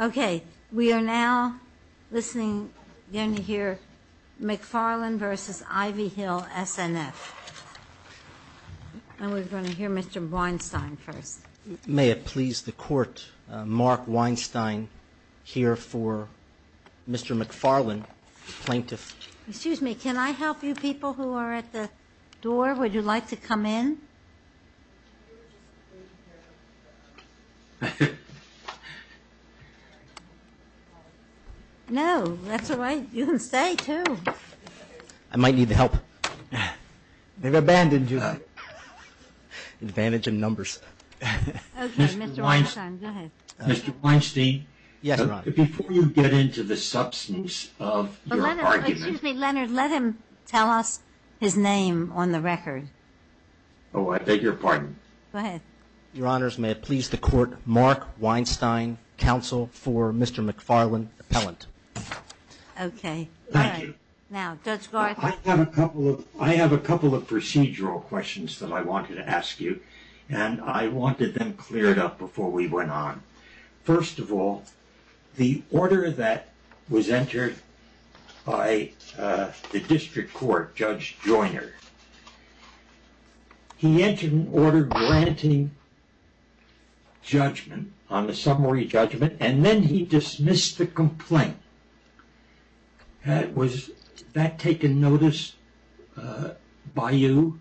Okay, we are now listening, going to hear McFarland versus Ivy Hill SNF, and we're going to hear Mr. Weinstein first. May it please the Court, Mark Weinstein here for Mr. McFarland, plaintiff. Excuse me, can I help you people who are at the door? Would you like to come in? No, that's all right. You can stay too. I might need the help. They've abandoned you. Advantage in numbers. Okay, Mr. Weinstein, go ahead. Mr. Weinstein. Yes, Your Honor. Before you get into the substance of your argument. Excuse me, Leonard, let him tell us his name on the record. Oh, I beg your pardon. Go ahead. Your Honors, may it please the Court, Mark Weinstein, counsel for Mr. McFarland, appellant. Okay. Thank you. Now, Judge Garth. I have a couple of procedural questions that I wanted to ask you, and I wanted them cleared up before we went on. First of all, the order that was entered by the district court, Judge Joyner. He entered an order granting judgment on the summary judgment, and then he dismissed the complaint. Was that taken notice by you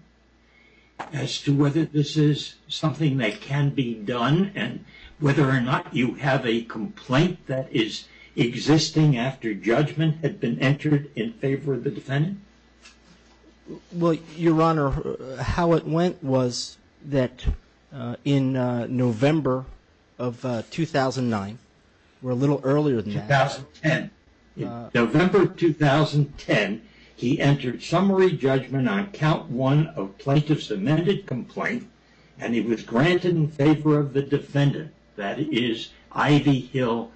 as to whether this is something that can be done, and whether or not you have a complaint that is existing after judgment had been entered in favor of the defendant? Well, Your Honor, how it went was that in November of 2009, or a little earlier than that. 2010. November of 2010, he entered summary judgment on count one of plaintiff's amended complaint, and it was granted in favor of the defendant. That is, Ivy Hill.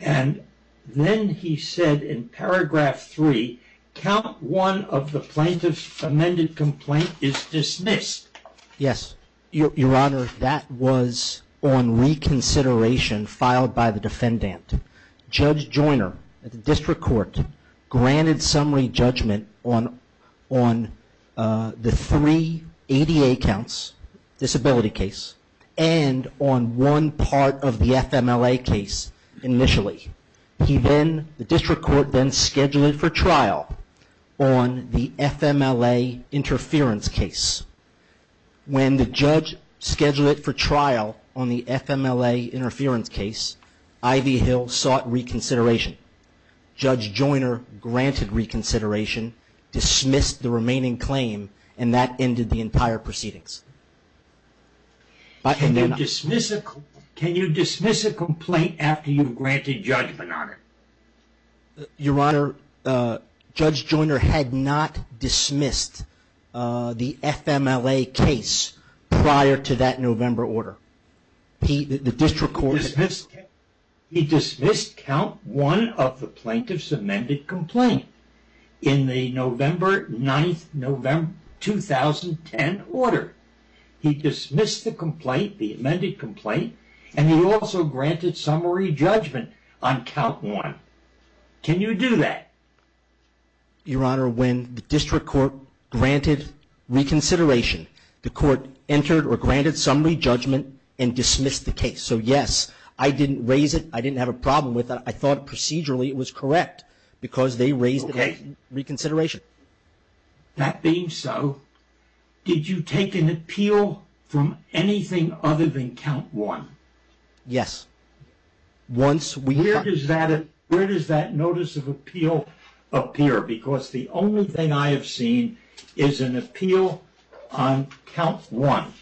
And then he said in paragraph three, count one of the plaintiff's amended complaint is dismissed. Yes. Your Honor, that was on reconsideration filed by the defendant. Judge Joyner at the district court granted summary judgment on the three ADA counts, disability case, and on one part of the FMLA case initially. The district court then scheduled it for trial on the FMLA interference case. When the judge scheduled it for trial on the FMLA interference case, Ivy Hill sought reconsideration. Judge Joyner granted reconsideration, dismissed the remaining claim, and that ended the entire proceedings. Can you dismiss a complaint after you've granted judgment on it? Your Honor, Judge Joyner had not dismissed the FMLA case prior to that November order. He dismissed count one of the plaintiff's amended complaint in the November 9, 2010 order. He dismissed the complaint, the amended complaint, and he also granted summary judgment on count one. Can you do that? Your Honor, when the district court granted reconsideration, the court entered or granted summary judgment and dismissed the case. So, yes, I didn't raise it. I didn't have a problem with it. I thought procedurally it was correct because they raised the case in reconsideration. That being so, did you take an appeal from anything other than count one? Yes. Where does that notice of appeal appear? Because the only thing I have seen is an appeal on count one.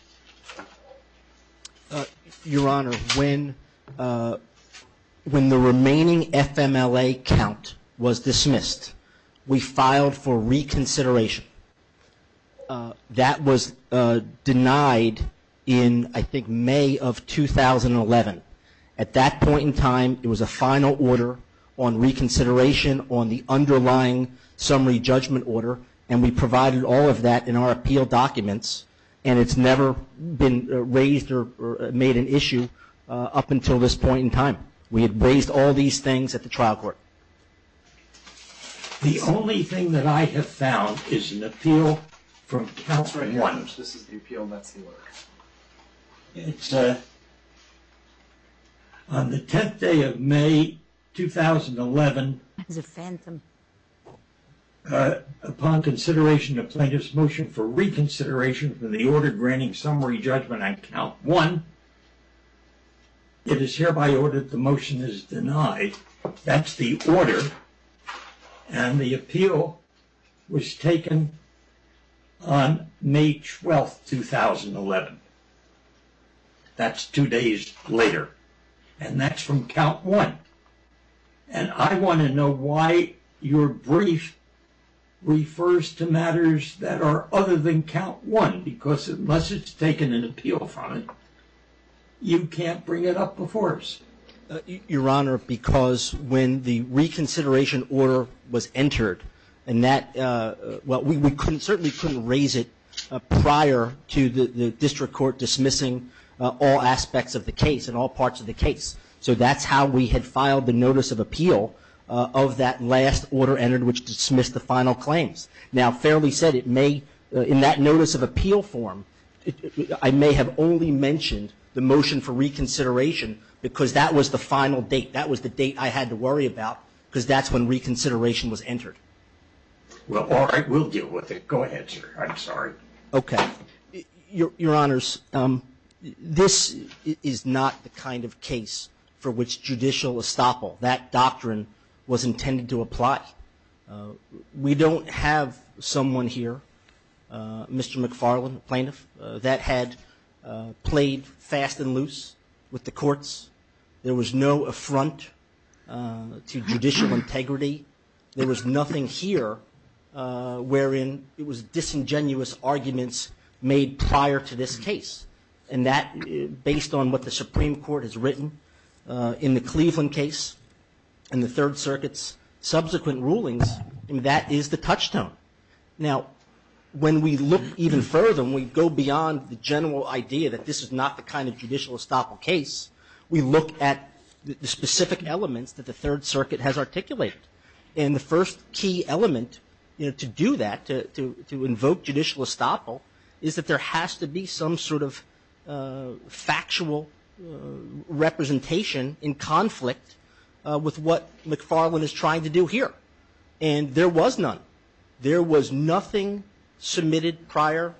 Your Honor, when the remaining FMLA count was dismissed, we filed for reconsideration. That was denied in, I think, May of 2011. At that point in time, it was a final order on reconsideration on the underlying summary judgment order, and we provided all of that in our appeal documents, and it's never been raised or made an issue up until this point in time. We had raised all these things at the trial court. The only thing that I have found is an appeal from count one. This is the appeal, and that's the order. It's on the 10th day of May 2011. It's a phantom. Upon consideration of plaintiff's motion for reconsideration for the order granting summary judgment on count one, it is hereby ordered the motion is denied. That's the order, and the appeal was taken on May 12, 2011. That's two days later, and that's from count one, and I want to know why your brief refers to matters that are other than count one, because unless it's taken an appeal from it, you can't bring it up before us. Your Honor, because when the reconsideration order was entered, we certainly couldn't raise it prior to the district court dismissing all aspects of the case and all parts of the case, so that's how we had filed the notice of appeal of that last order entered, which dismissed the final claims. Now, fairly said, it may, in that notice of appeal form, I may have only mentioned the motion for reconsideration because that was the final date. That was the date I had to worry about because that's when reconsideration was entered. Well, all right. We'll deal with it. Go ahead, sir. I'm sorry. Okay. Your Honors, this is not the kind of case for which judicial estoppel, that doctrine, was intended to apply. We don't have someone here, Mr. McFarlane, a plaintiff, that had played fast and loose with the courts. There was no affront to judicial integrity. There was nothing here wherein it was disingenuous arguments made prior to this case, and that, based on what the Supreme Court has written in the Cleveland case and the Third Circuits, subsequent rulings, that is the touchstone. Now, when we look even further and we go beyond the general idea that this is not the kind of judicial estoppel case, we look at the specific elements that the Third Circuit has articulated, and the first key element to do that, to invoke judicial estoppel, is that there has to be some sort of factual representation in conflict with what McFarlane is trying to do here, and there was none. There was nothing submitted prior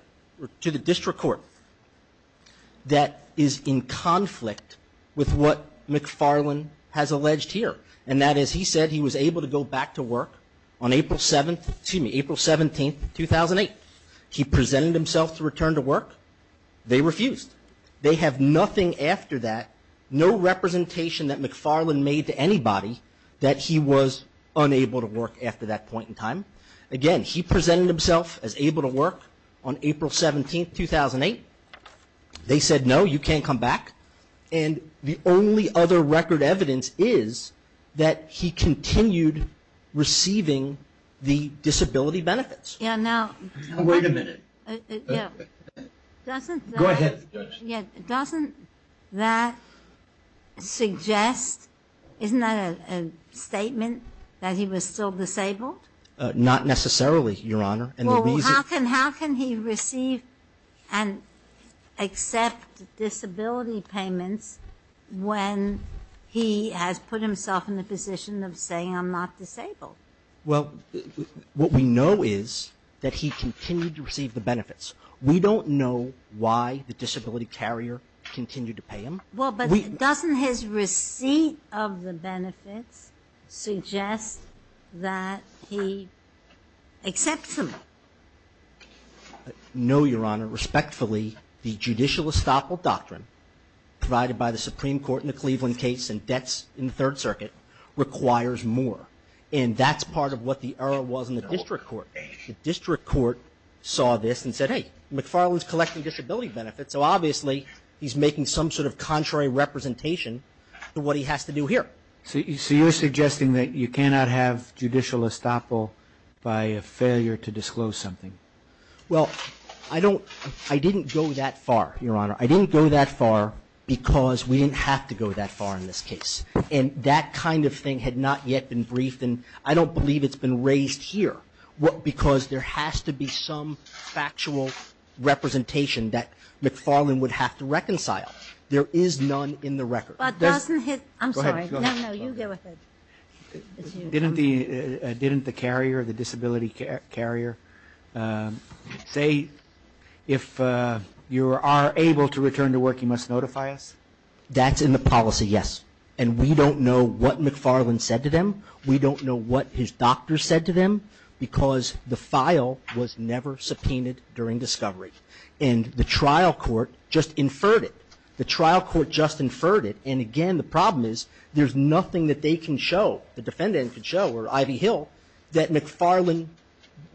to the district court that is in conflict with what McFarlane has alleged here, and that is he said he was able to go back to work on April 17th, 2008. He presented himself to return to work. They refused. They have nothing after that, no representation that McFarlane made to anybody, that he was unable to work after that point in time. Again, he presented himself as able to work on April 17th, 2008. They said, no, you can't come back, and the only other record evidence is that he continued receiving the disability benefits. Wait a minute. Go ahead. Doesn't that suggest, isn't that a statement that he was still disabled? Not necessarily, Your Honor. How can he receive and accept disability payments when he has put himself in the position of saying I'm not disabled? Well, what we know is that he continued to receive the benefits. We don't know why the disability carrier continued to pay him. Well, but doesn't his receipt of the benefits suggest that he accepts them? No, Your Honor. Respectfully, the judicial estoppel doctrine provided by the Supreme Court in the Cleveland case and debts in the Third Circuit requires more. And that's part of what the error was in the district court. The district court saw this and said, hey, McFarlane's collecting disability benefits, so obviously he's making some sort of contrary representation to what he has to do here. So you're suggesting that you cannot have judicial estoppel by a failure to disclose something? Well, I don't – I didn't go that far, Your Honor. I didn't go that far because we didn't have to go that far in this case. And that kind of thing had not yet been briefed, and I don't believe it's been raised here, because there has to be some factual representation that McFarlane would have to reconcile. There is none in the record. But doesn't his – I'm sorry. No, no, you go with it. Didn't the carrier, the disability carrier, say if you are able to return to work, you must notify us? That's in the policy, yes. And we don't know what McFarlane said to them. We don't know what his doctor said to them, because the file was never subpoenaed during discovery. And the trial court just inferred it. The trial court just inferred it. And again, the problem is there's nothing that they can show, the defendant can show, or Ivy Hill, that McFarlane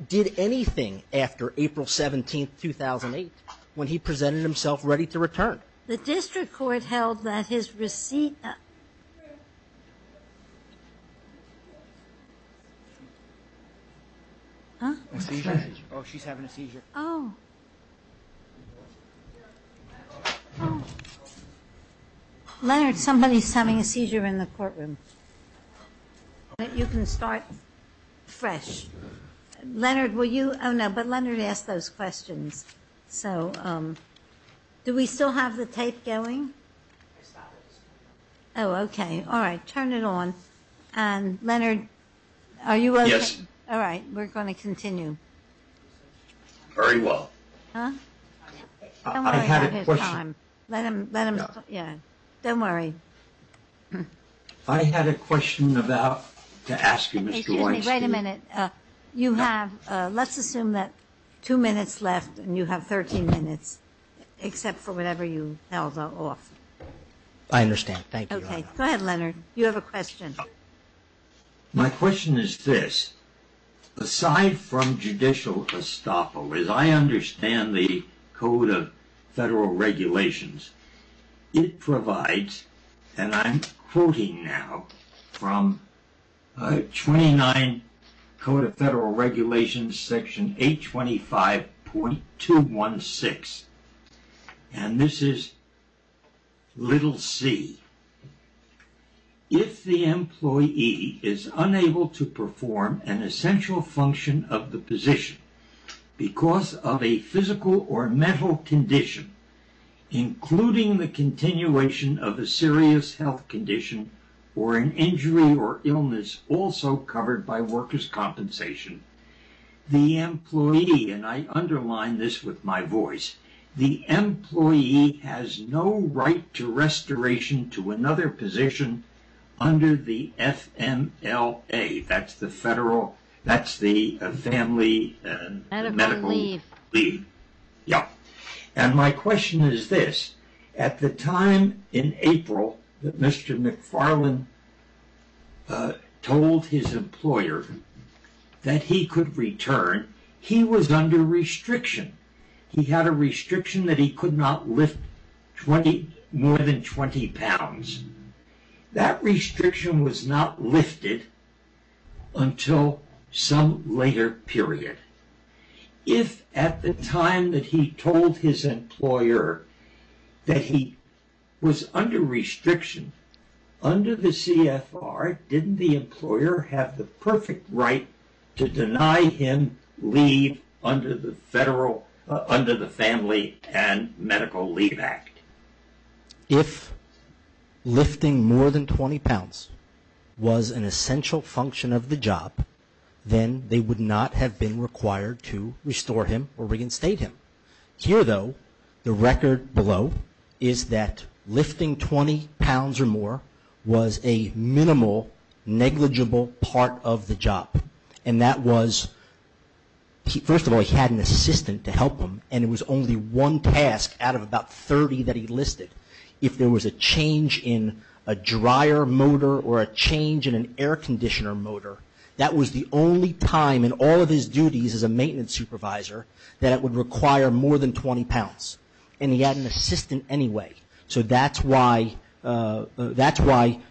did anything after April 17th, 2008, when he presented himself ready to return. The district court held that his receipt – A seizure? Oh, she's having a seizure. Oh. Leonard, somebody's having a seizure in the courtroom. You can start fresh. Leonard, will you – oh, no, but Leonard asked those questions. So do we still have the tape going? Oh, okay. All right. Turn it on. And Leonard, are you okay? Yes. All right. We're going to continue. Very well. Huh? I had a question. Don't worry about his time. Let him talk. Don't worry. I had a question about – to ask you, Mr. Weinstein. Excuse me. Wait a minute. You have – let's assume that two minutes left and you have 13 minutes, except for whatever you held off. I understand. Thank you, Your Honor. Okay. Go ahead, Leonard. You have a question. My question is this. Aside from judicial estoppel, as I understand the Code of Federal Regulations, it provides – and I'm quoting now from 29 Code of Federal Regulations, Section 825.216. And this is little c. If the employee is unable to perform an essential function of the position because of a physical or mental condition, including the continuation of a serious health condition or an injury or illness also covered by workers' compensation, the employee – and I underline this with my voice – the employee has no right to restoration to another position under the FMLA. That's the federal – that's the family medical leave. Yeah. And my question is this. At the time in April that Mr. McFarland told his employer that he could return, he was under restriction. He had a restriction that he could not lift more than 20 pounds. That restriction was not lifted until some later period. If at the time that he told his employer that he was under restriction under the CFR, didn't the employer have the perfect right to deny him leave under the family and medical leave act? If lifting more than 20 pounds was an essential function of the job, then they would not have been required to restore him or reinstate him. Here, though, the record below is that lifting 20 pounds or more was a minimal negligible part of the job. And that was – first of all, he had an assistant to help him, and it was only one task out of about 30 that he listed. If there was a change in a dryer motor or a change in an air conditioner motor, that was the only time in all of his duties as a maintenance supervisor that it would require more than 20 pounds. And he had an assistant anyway. So that's why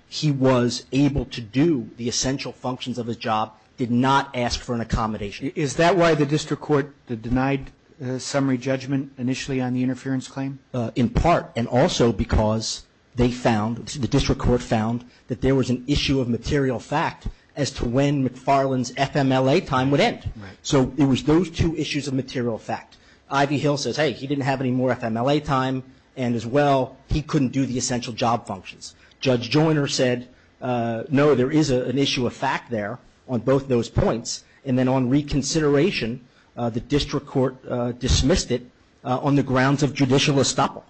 he was able to do the essential functions of his job, did not ask for an accommodation. Is that why the district court denied summary judgment initially on the interference claim? In part. And also because they found, the district court found, that there was an issue of material fact as to when McFarland's FMLA time would end. So it was those two issues of material fact. Ivy Hill says, hey, he didn't have any more FMLA time, and as well he couldn't do the essential job functions. Judge Joiner said, no, there is an issue of fact there on both those points. And then on reconsideration, the district court dismissed it on the grounds of judicial estoppel.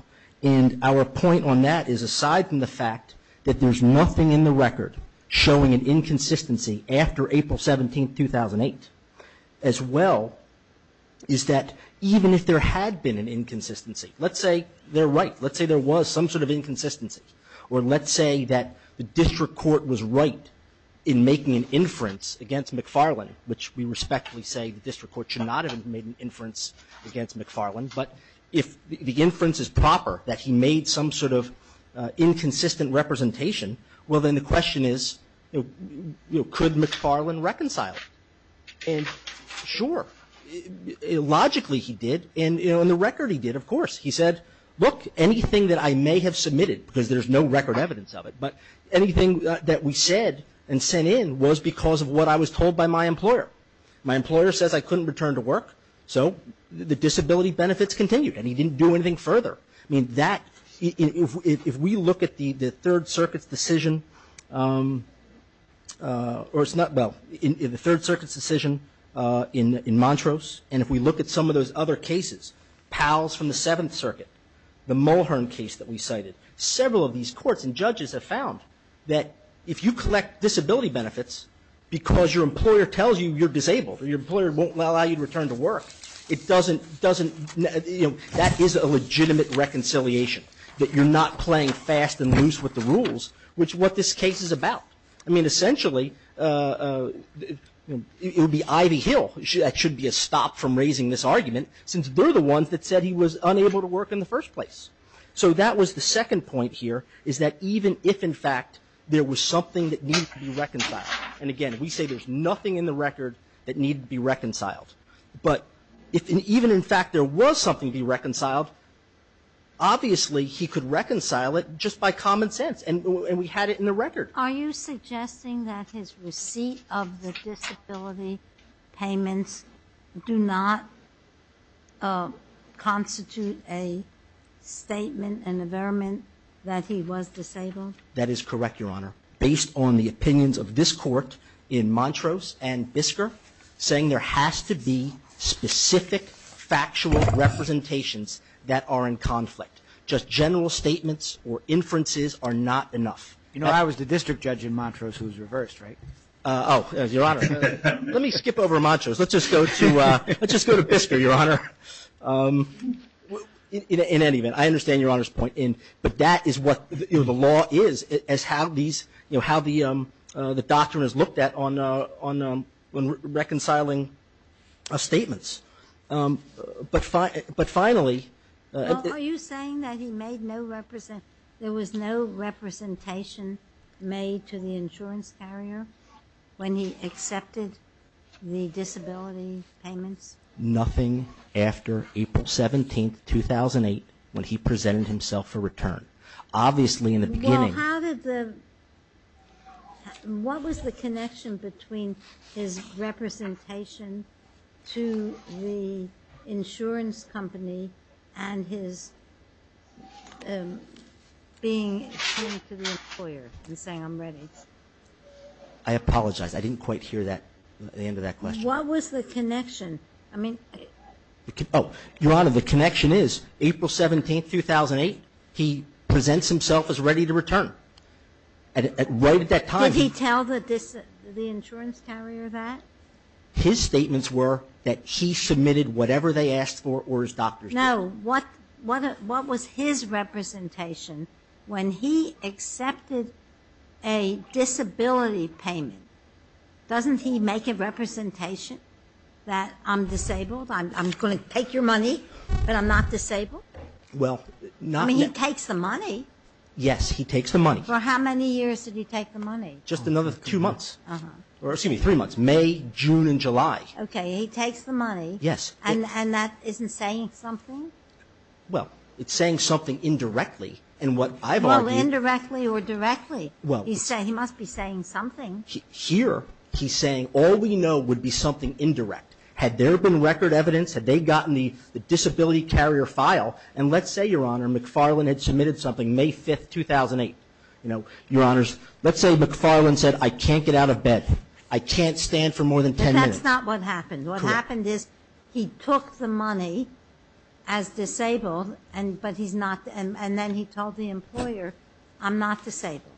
And our point on that is aside from the fact that there's nothing in the record showing an inconsistency after April 17, 2008, as well is that even if there had been an inconsistency, let's say they're right, let's say there was some sort of inconsistency, or let's say that the district court was right in making an inference against McFarland, which we respectfully say the district court should not have made an inference against McFarland, but if the inference is proper that he made some sort of inconsistent representation, well, then the question is, you know, could McFarland reconcile it? And sure. Logically he did. He said, look, anything that I may have submitted, because there's no record evidence of it, but anything that we said and sent in was because of what I was told by my employer. My employer says I couldn't return to work, so the disability benefits continued, and he didn't do anything further. I mean, if we look at the Third Circuit's decision in Montrose, and if we look at some of those other cases, Powell's from the Seventh Circuit, the Mulhern case that we cited, several of these courts and judges have found that if you collect disability benefits because your employer tells you you're disabled or your employer won't allow you to return to work, it doesn't, doesn't, you know, that is a legitimate reconciliation, that you're not playing fast and loose with the rules, which is what this case is about. I mean, essentially, it would be Ivy Hill. That should be a stop from raising this argument, since they're the ones that said he was unable to work in the first place. So that was the second point here, is that even if, in fact, there was something that needed to be reconciled, and, again, we say there's nothing in the record that needed to be reconciled, but even if, in fact, there was something to be reconciled, obviously he could reconcile it just by common sense, and we had it in the record. Ginsburg. Are you suggesting that his receipt of the disability payments do not constitute a statement, an averment that he was disabled? That is correct, Your Honor. Based on the opinions of this Court in Montrose and Bisker, saying there has to be specific factual representations that are in conflict. Just general statements or inferences are not enough. You know, I was the district judge in Montrose who was reversed, right? Oh, Your Honor, let me skip over Montrose. Let's just go to Bisker, Your Honor. In any event, I understand Your Honor's point, but that is what the law is as how the doctrine is looked at when reconciling statements. But finally ---- Well, are you saying that there was no representation made to the insurance carrier when he accepted the disability payments? Nothing after April 17, 2008, when he presented himself for return. Obviously in the beginning ---- Well, how did the ---- I apologize. I didn't quite hear that at the end of that question. What was the connection? I mean ---- Oh, Your Honor, the connection is April 17, 2008, he presents himself as ready to return. Right at that time ---- Did he tell the insurance carrier that? His statements were that he submitted whatever they asked for or his doctor said. No. What was his representation when he accepted a disability payment? Doesn't he make a representation that I'm disabled? I'm going to take your money, but I'm not disabled? Well, not ---- I mean, he takes the money. Yes, he takes the money. For how many years did he take the money? Just another two months, or excuse me, three months, May, June, and July. Okay. He takes the money. Yes. And that isn't saying something? Well, it's saying something indirectly. And what I've argued ---- Well, indirectly or directly, he must be saying something. Here he's saying all we know would be something indirect. Had there been record evidence? Had they gotten the disability carrier file? And let's say, Your Honor, McFarlane had submitted something May 5, 2008. You know, Your Honors, let's say McFarlane said I can't get out of bed. I can't stand for more than 10 minutes. But that's not what happened. Correct. What happened is he took the money as disabled, but he's not ---- and then he told the employer I'm not disabled.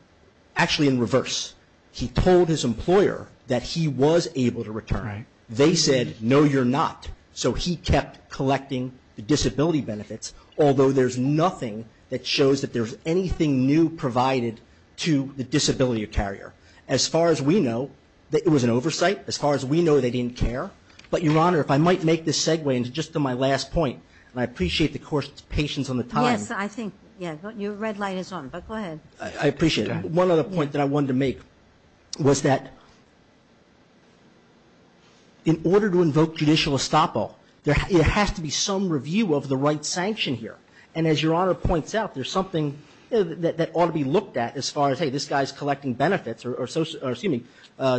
Actually, in reverse. He told his employer that he was able to return. They said, No, you're not. So he kept collecting the disability benefits, although there's nothing that shows that there's anything new provided to the disability carrier. As far as we know, it was an oversight. As far as we know, they didn't care. But, Your Honor, if I might make this segue into just my last point, and I appreciate the Court's patience on the time. Yes. I think, yeah, your red light is on, but go ahead. I appreciate it. One other point that I wanted to make was that in order to invoke judicial estoppel, there has to be some review of the right sanction here. And as Your Honor points out, there's something that ought to be looked at as far as, hey, this guy's collecting benefits or, excuse me,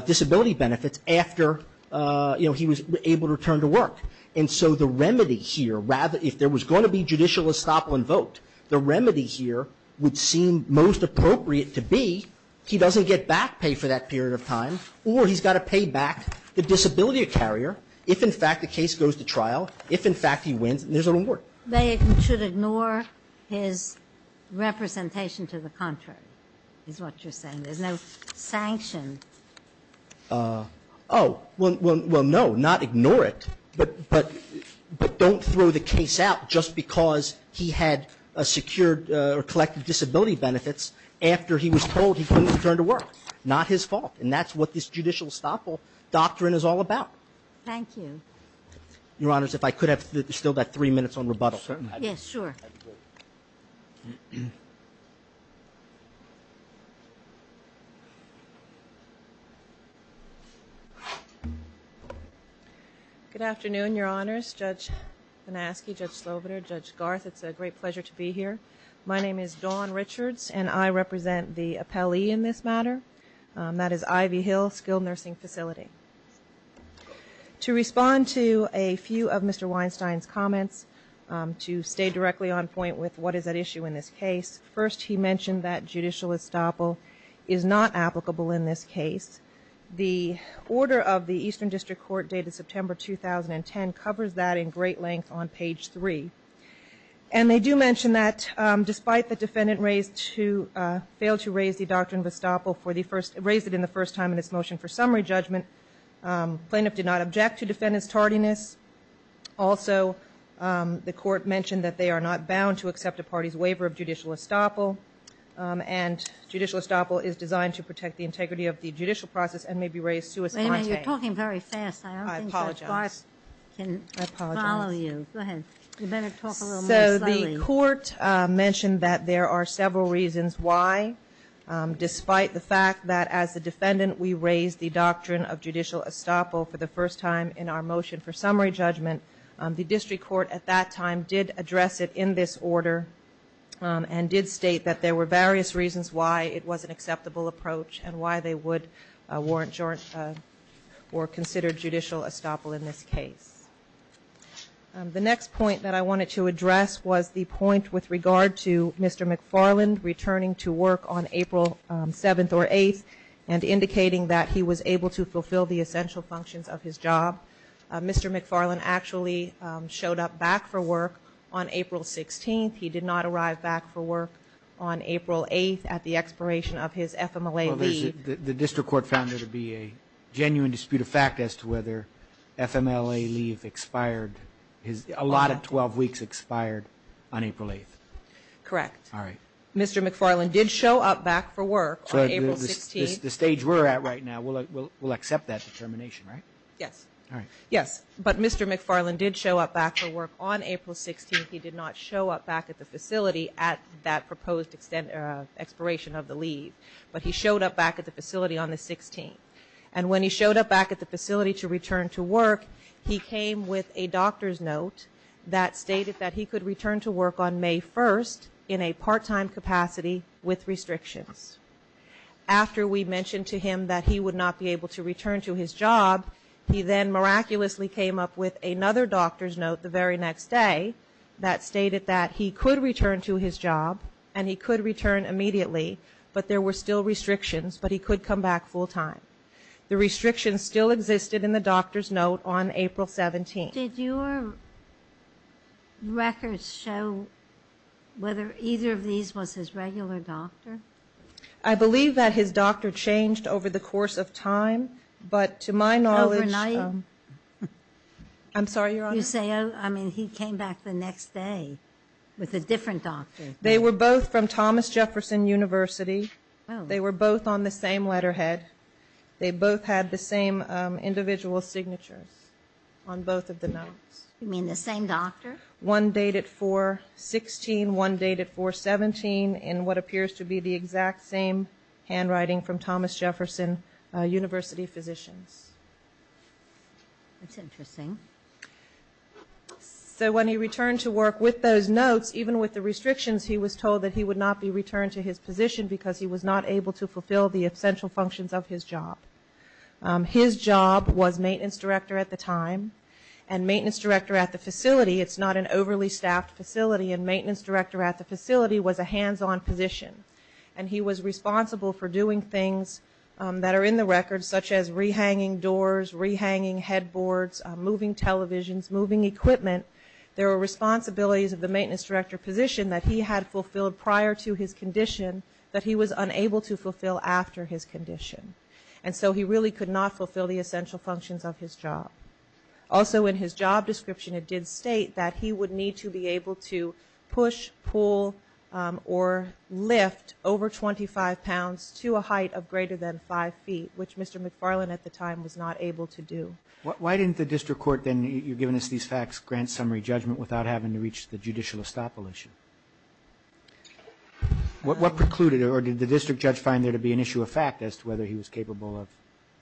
disability benefits after, you know, he was able to return to work. And so the remedy here, rather, if there was going to be judicial estoppel invoked, the remedy here would seem most appropriate to be he doesn't get back pay for that period of time, or he's got to pay back the disability carrier if, in fact, the case goes to trial, if, in fact, he wins, and there's a reward. They should ignore his representation to the contrary, is what you're saying. There's no sanction. Oh. Well, no, not ignore it, but don't throw the case out just because he had secured or collected disability benefits after he was told he couldn't return to work. Not his fault. And that's what this judicial estoppel doctrine is all about. Thank you. Your Honors, if I could have still that three minutes on rebuttal. Yes, sure. Good afternoon, Your Honors. Judge Banaski, Judge Slovener, Judge Garth, it's a great pleasure to be here. My name is Dawn Richards, and I represent the appellee in this matter. That is Ivy Hill Skilled Nursing Facility. To respond to a few of Mr. Weinstein's comments, to stay directly on point with what is at issue in this case, first, he mentioned that judicial estoppel is not applicable in this case. The order of the Eastern District Court dated September 2010 covers that in great length on page 3. And they do mention that despite the defendant raised to fail to raise the doctrine of estoppel for the first, raised it in the first time in its motion for summary judgment, plaintiff did not object to defendant's tardiness. Also, the court mentioned that they are not bound to accept a party's waiver of judicial estoppel. And judicial estoppel is designed to protect the integrity of the judicial process and may be raised to a second. Wait a minute, you're talking very fast. I apologize. I don't think that Garth can follow you. I apologize. Go ahead. You better talk a little more slowly. The court mentioned that there are several reasons why, despite the fact that as the defendant, we raised the doctrine of judicial estoppel for the first time in our motion for summary judgment, the district court at that time did address it in this order and did state that there were various reasons why it was an acceptable approach and why they would warrant or consider judicial estoppel in this case. The next point that I wanted to address was the point with regard to Mr. McFarland returning to work on April 7th or 8th and indicating that he was able to fulfill the essential functions of his job. Mr. McFarland actually showed up back for work on April 16th. He did not arrive back for work on April 8th at the expiration of his FMLA leave. Well, the district court found there to be a genuine dispute of fact as to whether FMLA leave expired. A lot of 12 weeks expired on April 8th. Correct. All right. Mr. McFarland did show up back for work on April 16th. The stage we're at right now, we'll accept that determination, right? Yes. All right. Yes. But Mr. McFarland did show up back for work on April 16th. He did not show up back at the facility at that proposed expiration of the leave. But he showed up back at the facility on the 16th. And when he showed up back at the facility to return to work, he came with a doctor's note that stated that he could return to work on May 1st in a part-time capacity with restrictions. After we mentioned to him that he would not be able to return to his job, he then miraculously came up with another doctor's note the very next day that stated that he could return to his job and he could return immediately, but there were still restrictions, but he could come back full-time. The restrictions still existed in the doctor's note on April 17th. Did your records show whether either of these was his regular doctor? I believe that his doctor changed over the course of time, but to my knowledge. Overnight? I'm sorry, Your Honor. You say, I mean, he came back the next day with a different doctor. They were both from Thomas Jefferson University. They were both on the same letterhead. They both had the same individual signatures on both of the notes. You mean the same doctor? One dated 4-16, one dated 4-17, and what appears to be the exact same handwriting from Thomas Jefferson University physicians. That's interesting. So when he returned to work with those notes, even with the restrictions he was told that he would not be returned to his position because he was not able to fulfill the essential functions of his job. His job was maintenance director at the time, and maintenance director at the facility, it's not an overly staffed facility, and maintenance director at the facility was a hands-on position. And he was responsible for doing things that are in the records, such as re-hanging doors, re-hanging headboards, moving televisions, moving equipment. There were responsibilities of the maintenance director position that he had fulfilled prior to his condition that he was unable to fulfill after his condition. And so he really could not fulfill the essential functions of his job. Also in his job description it did state that he would need to be able to push, pull, or lift over 25 pounds to a height of greater than five feet, which Mr. McFarland at the time was not able to do. Roberts. Why didn't the district court then, you've given us these facts, grant summary judgment without having to reach the judicial estoppel issue? What precluded or did the district judge find there to be an issue of fact as to whether he was capable of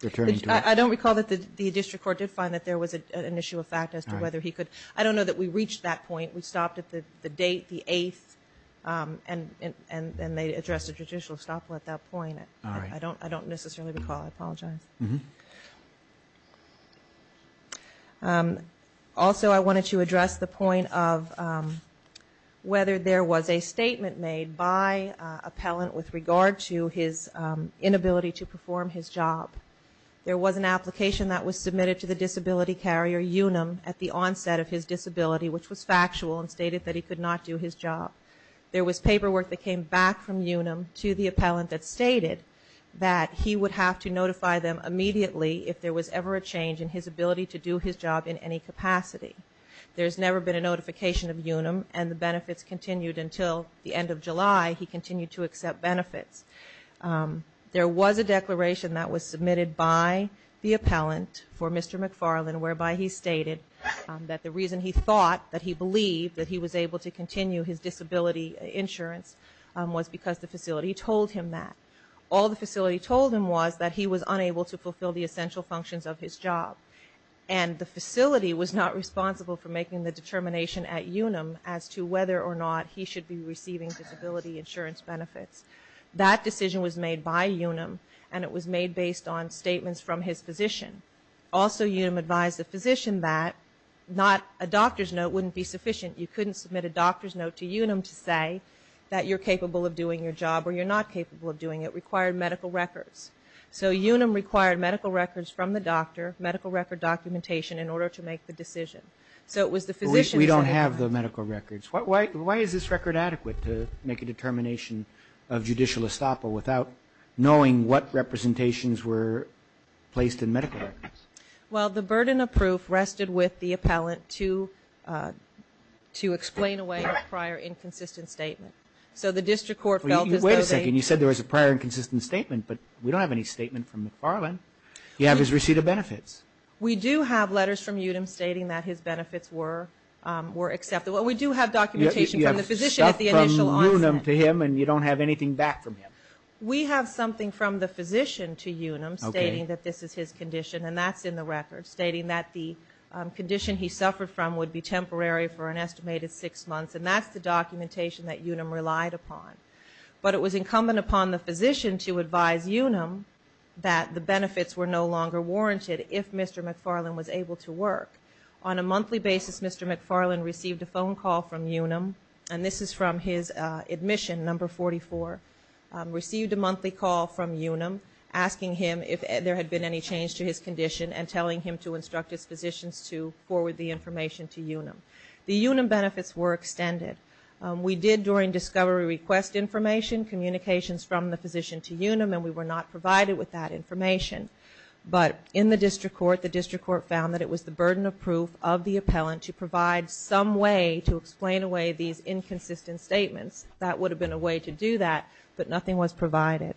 returning to work? I don't recall that the district court did find that there was an issue of fact as to whether he could. I don't know that we reached that point. We stopped at the date, the 8th, and they addressed the judicial estoppel at that point. I don't necessarily recall. I apologize. Also I wanted to address the point of whether there was a statement made by appellant with regard to his inability to perform his job. There was an application that was submitted to the disability carrier, Unum, at the onset of his disability, which was factual, and stated that he could not do his job. There was paperwork that came back from Unum to the appellant that stated that he would have to notify them immediately if there was ever a change in his ability to do his job in any capacity. There's never been a notification of Unum, and the benefits continued until the end of July. He continued to accept benefits. There was a declaration that was submitted by the appellant for Mr. McFarland, whereby he stated that the reason he thought that he believed that he was able to continue his disability insurance was because the facility told him that. All the facility told him was that he was unable to fulfill the essential functions of his job, and the facility was not responsible for making the determination at Unum as to whether or not he should be receiving disability insurance benefits. That decision was made by Unum, and it was made based on statements from his physician. Also Unum advised the physician that a doctor's note wouldn't be sufficient. You couldn't submit a doctor's note to Unum to say that you're capable of doing your job or you're not capable of doing it. It required medical records. So Unum required medical records from the doctor, medical record documentation in order to make the decision. So it was the physician. We don't have the medical records. Why is this record adequate to make a determination of judicial estoppel without knowing what representations were placed in medical records? Well, the burden of proof rested with the appellant to explain away a prior inconsistent statement. So the district court felt as though they... Wait a second. You said there was a prior inconsistent statement, but we don't have any statement from McFarland. You have his receipt of benefits. We do have letters from Unum stating that his benefits were accepted. Well, we do have documentation from the physician at the initial onset. You have stuff from Unum to him and you don't have anything back from him. We have something from the physician to Unum stating that this is his condition, and that's in the record, stating that the condition he suffered from would be temporary for an estimated six months. And that's the documentation that Unum relied upon. But it was incumbent upon the physician to advise Unum that the benefits were no longer warranted if Mr. McFarland was able to work. On a monthly basis, Mr. McFarland received a phone call from Unum, and this is from his admission, number 44, received a monthly call from Unum asking him if there had been any change to his condition and telling him to instruct his physicians to forward the information to Unum. The Unum benefits were extended. We did, during discovery, request information, communications from the physician to Unum, and we were not provided with that information. But in the district court, the district court found that it was the burden of proof of the appellant to provide some way to explain away these inconsistent statements. That would have been a way to do that, but nothing was provided.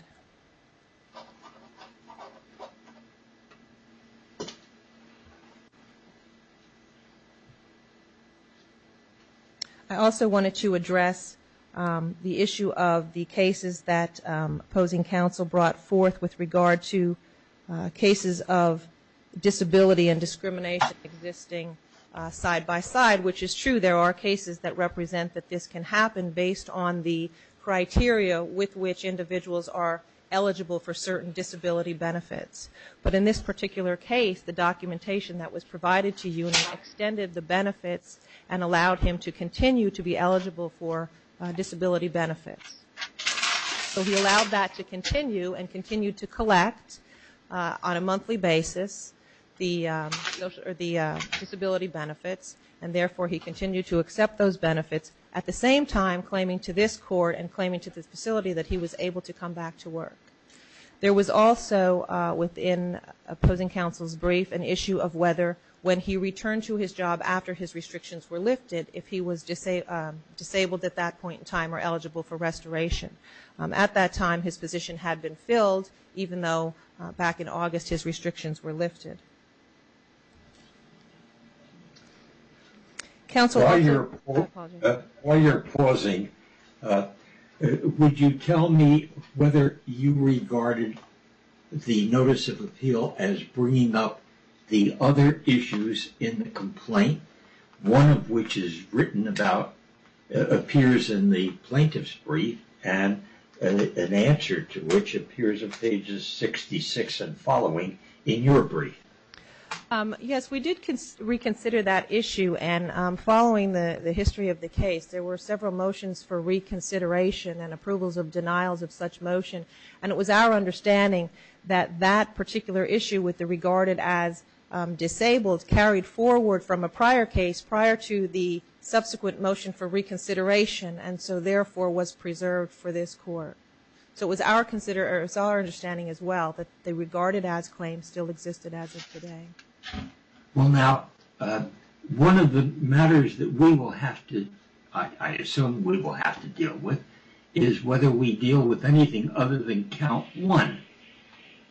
I also wanted to address the issue of the cases that opposing counsel brought forth with regard to cases of disability and discrimination existing side by side, which is true. There are cases that represent that this can happen based on the criteria with which individuals are eligible for certain disability benefits. But in this particular case, the documentation that was provided to Unum extended the benefits and allowed him to continue to be eligible for disability benefits. So he allowed that to continue and continued to collect on a monthly basis the disability benefits, and therefore he continued to accept those benefits at the same time claiming to this court and claiming to this facility that he was able to come back to work. There was also within opposing counsel's brief an issue of whether when he returned to his job after his restrictions were lifted, if he was disabled at that point in time or eligible for restoration. At that time, his position had been filled even though back in August his restrictions were lifted. While you're pausing, would you tell me whether you regarded the notice of appeal as bringing up the other issues in the complaint, one of which is written about appears in the plaintiff's brief and an answer to which appears on pages 66 and following in your brief. Yes, we did reconsider that issue and following the history of the case, there were several motions for reconsideration and approvals of denials of such motion, and it was our understanding that that particular issue with the regarded as disabled carried forward from a prior case prior to the subsequent motion for reconsideration and so therefore was preserved for this court. So it was our understanding as well that the regarded as claim still existed as it is today. Well now one of the matters that we will have to, I assume we will have to deal with is whether we deal with anything other than count one.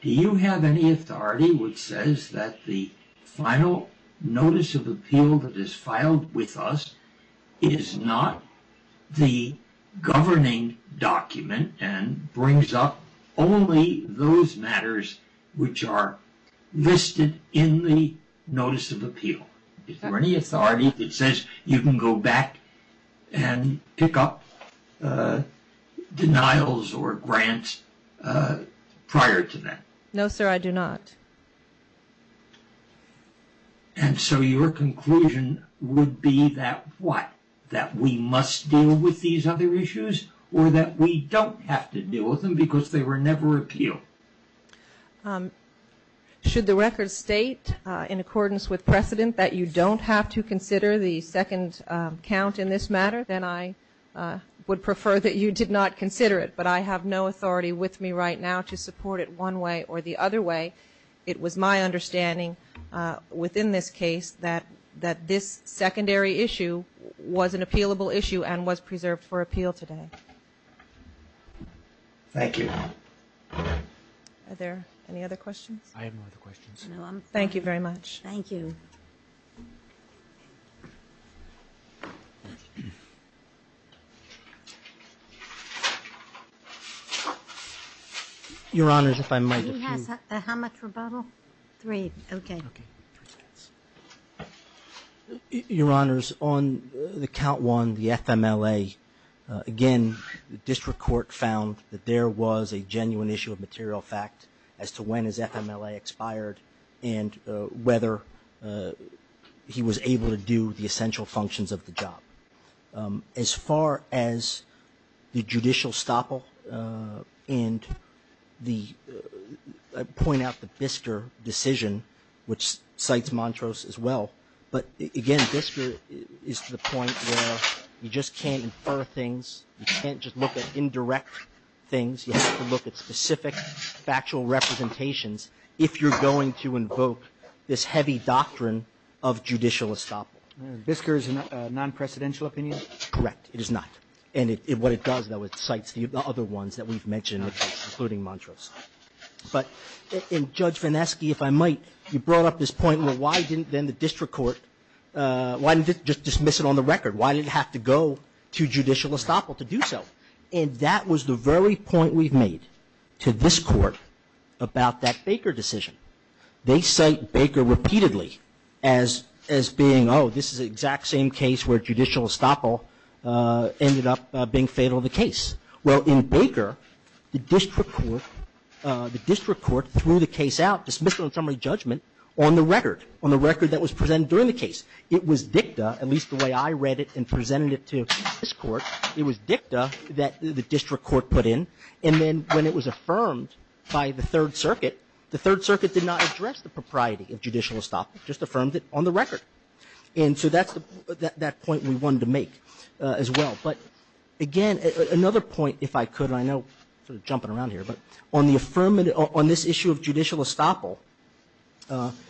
Do you have any authority which says that the final notice of appeal that is filed with us is not the governing document and brings up only those matters which are listed in the notice of appeal? Is there any authority that says you can go back and pick up denials or grants prior to that? No sir, I do not. And so your conclusion would be that what, that we must deal with these other issues or that we don't have to deal with them because they were never appealed. Should the record state in accordance with precedent that you don't have to consider the second count in this matter, then I would prefer that you did not consider it, but I have no authority with me right now to support it one way or the other way. It was my understanding within this case that, that this secondary issue was an appealable issue and was preserved for appeal today. Thank you. Are there any other questions? I have no other questions. Thank you very much. Thank you. Your Honors, if I might. He has how much rebuttal? Three. Okay. Your Honors, on the count one, the FMLA, again, the district court found that there was a genuine issue of material fact as to when his FMLA expired and whether he was able to do the essential functions of the job. As far as the judicial stopple and the point out the BISCR decision, which cites Montrose as well, but again, BISCR is to the point where you just can't infer things. You can't just look at indirect things. You have to look at specific factual representations if you're going to invoke this heavy doctrine of judicial stopple. BISCR is a non-precedential opinion? Correct. It is not. And what it does, though, it cites the other ones that we've mentioned, including Montrose. But in Judge Vineski, if I might, you brought up this point, why didn't the district court just dismiss it on the record? Why did it have to go to judicial stopple to do so? And that was the very point we've made to this Court about that Baker decision. They cite Baker repeatedly as being, oh, this is the exact same case where judicial stopple ended up being fatal to the case. Well, in Baker, the district court threw the case out, dismissed it on summary judgment, on the record, on the record that was presented during the case. It was dicta, at least the way I read it and presented it to this Court, it was dicta that the district court put in. And then when it was affirmed by the Third Circuit, the Third Circuit did not address the propriety of judicial stopple. It just affirmed it on the record. And so that's the point we wanted to make as well. But again, another point, if I could, and I know we're jumping around here, but on the affirmative, on this issue of judicial stopple,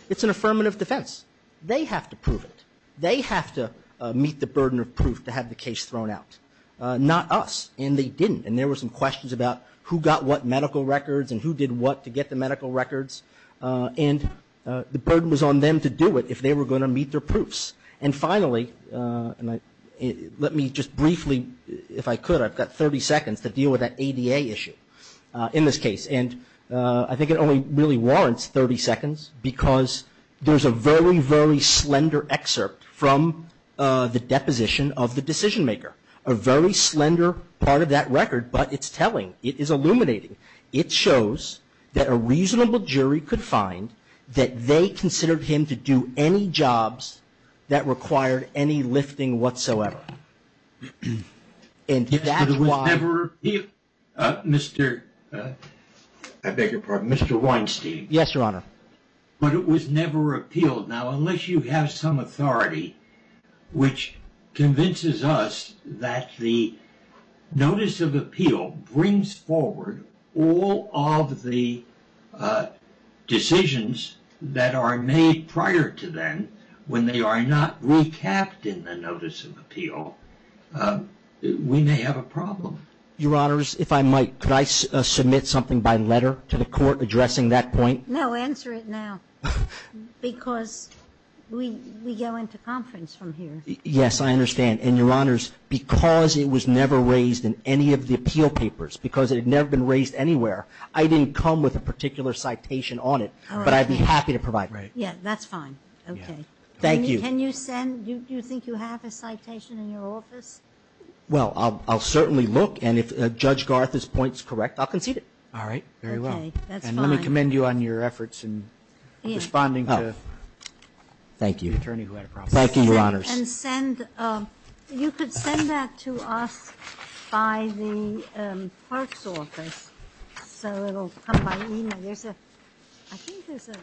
it's an affirmative defense. They have to prove it. They have to meet the burden of proof to have the case thrown out, not us. And they didn't. And there were some questions about who got what medical records and who did what to get the medical records. And the burden was on them to do it if they were going to meet their proofs. And finally, let me just briefly, if I could, I've got 30 seconds to deal with that ADA issue. In this case. And I think it only really warrants 30 seconds because there's a very, very slender excerpt from the deposition of the decision maker. A very slender part of that record, but it's telling. It is illuminating. It shows that a reasonable jury could find that they considered him to do any jobs that required any lifting whatsoever. Mr. I beg your pardon. Mr. Weinstein. Yes, Your Honor. But it was never appealed. Now, unless you have some authority, which convinces us that the notice of appeal brings forward all of the decisions that are made prior to them when they are not recapped in the notice of appeal. We may have a problem. Your Honors, if I might, could I submit something by letter to the court addressing that point? No, answer it now. Because we go into conference from here. Yes, I understand. And Your Honors, because it was never raised in any of the appeal papers, because it had never been raised anywhere, I didn't come with a particular citation on it, but I'd be happy to provide it. Yeah, that's fine. Okay. Thank you. Can you send, do you think you have a citation in your office? Well, I'll certainly look. And if Judge Garth's point is correct, I'll concede it. All right, very well. Okay, that's fine. And let me commend you on your efforts in responding to the attorney who had a problem. Thank you. Thank you, Your Honors. And send, you could send that to us by the clerk's office, so it will come by email. There's a, I think there's a.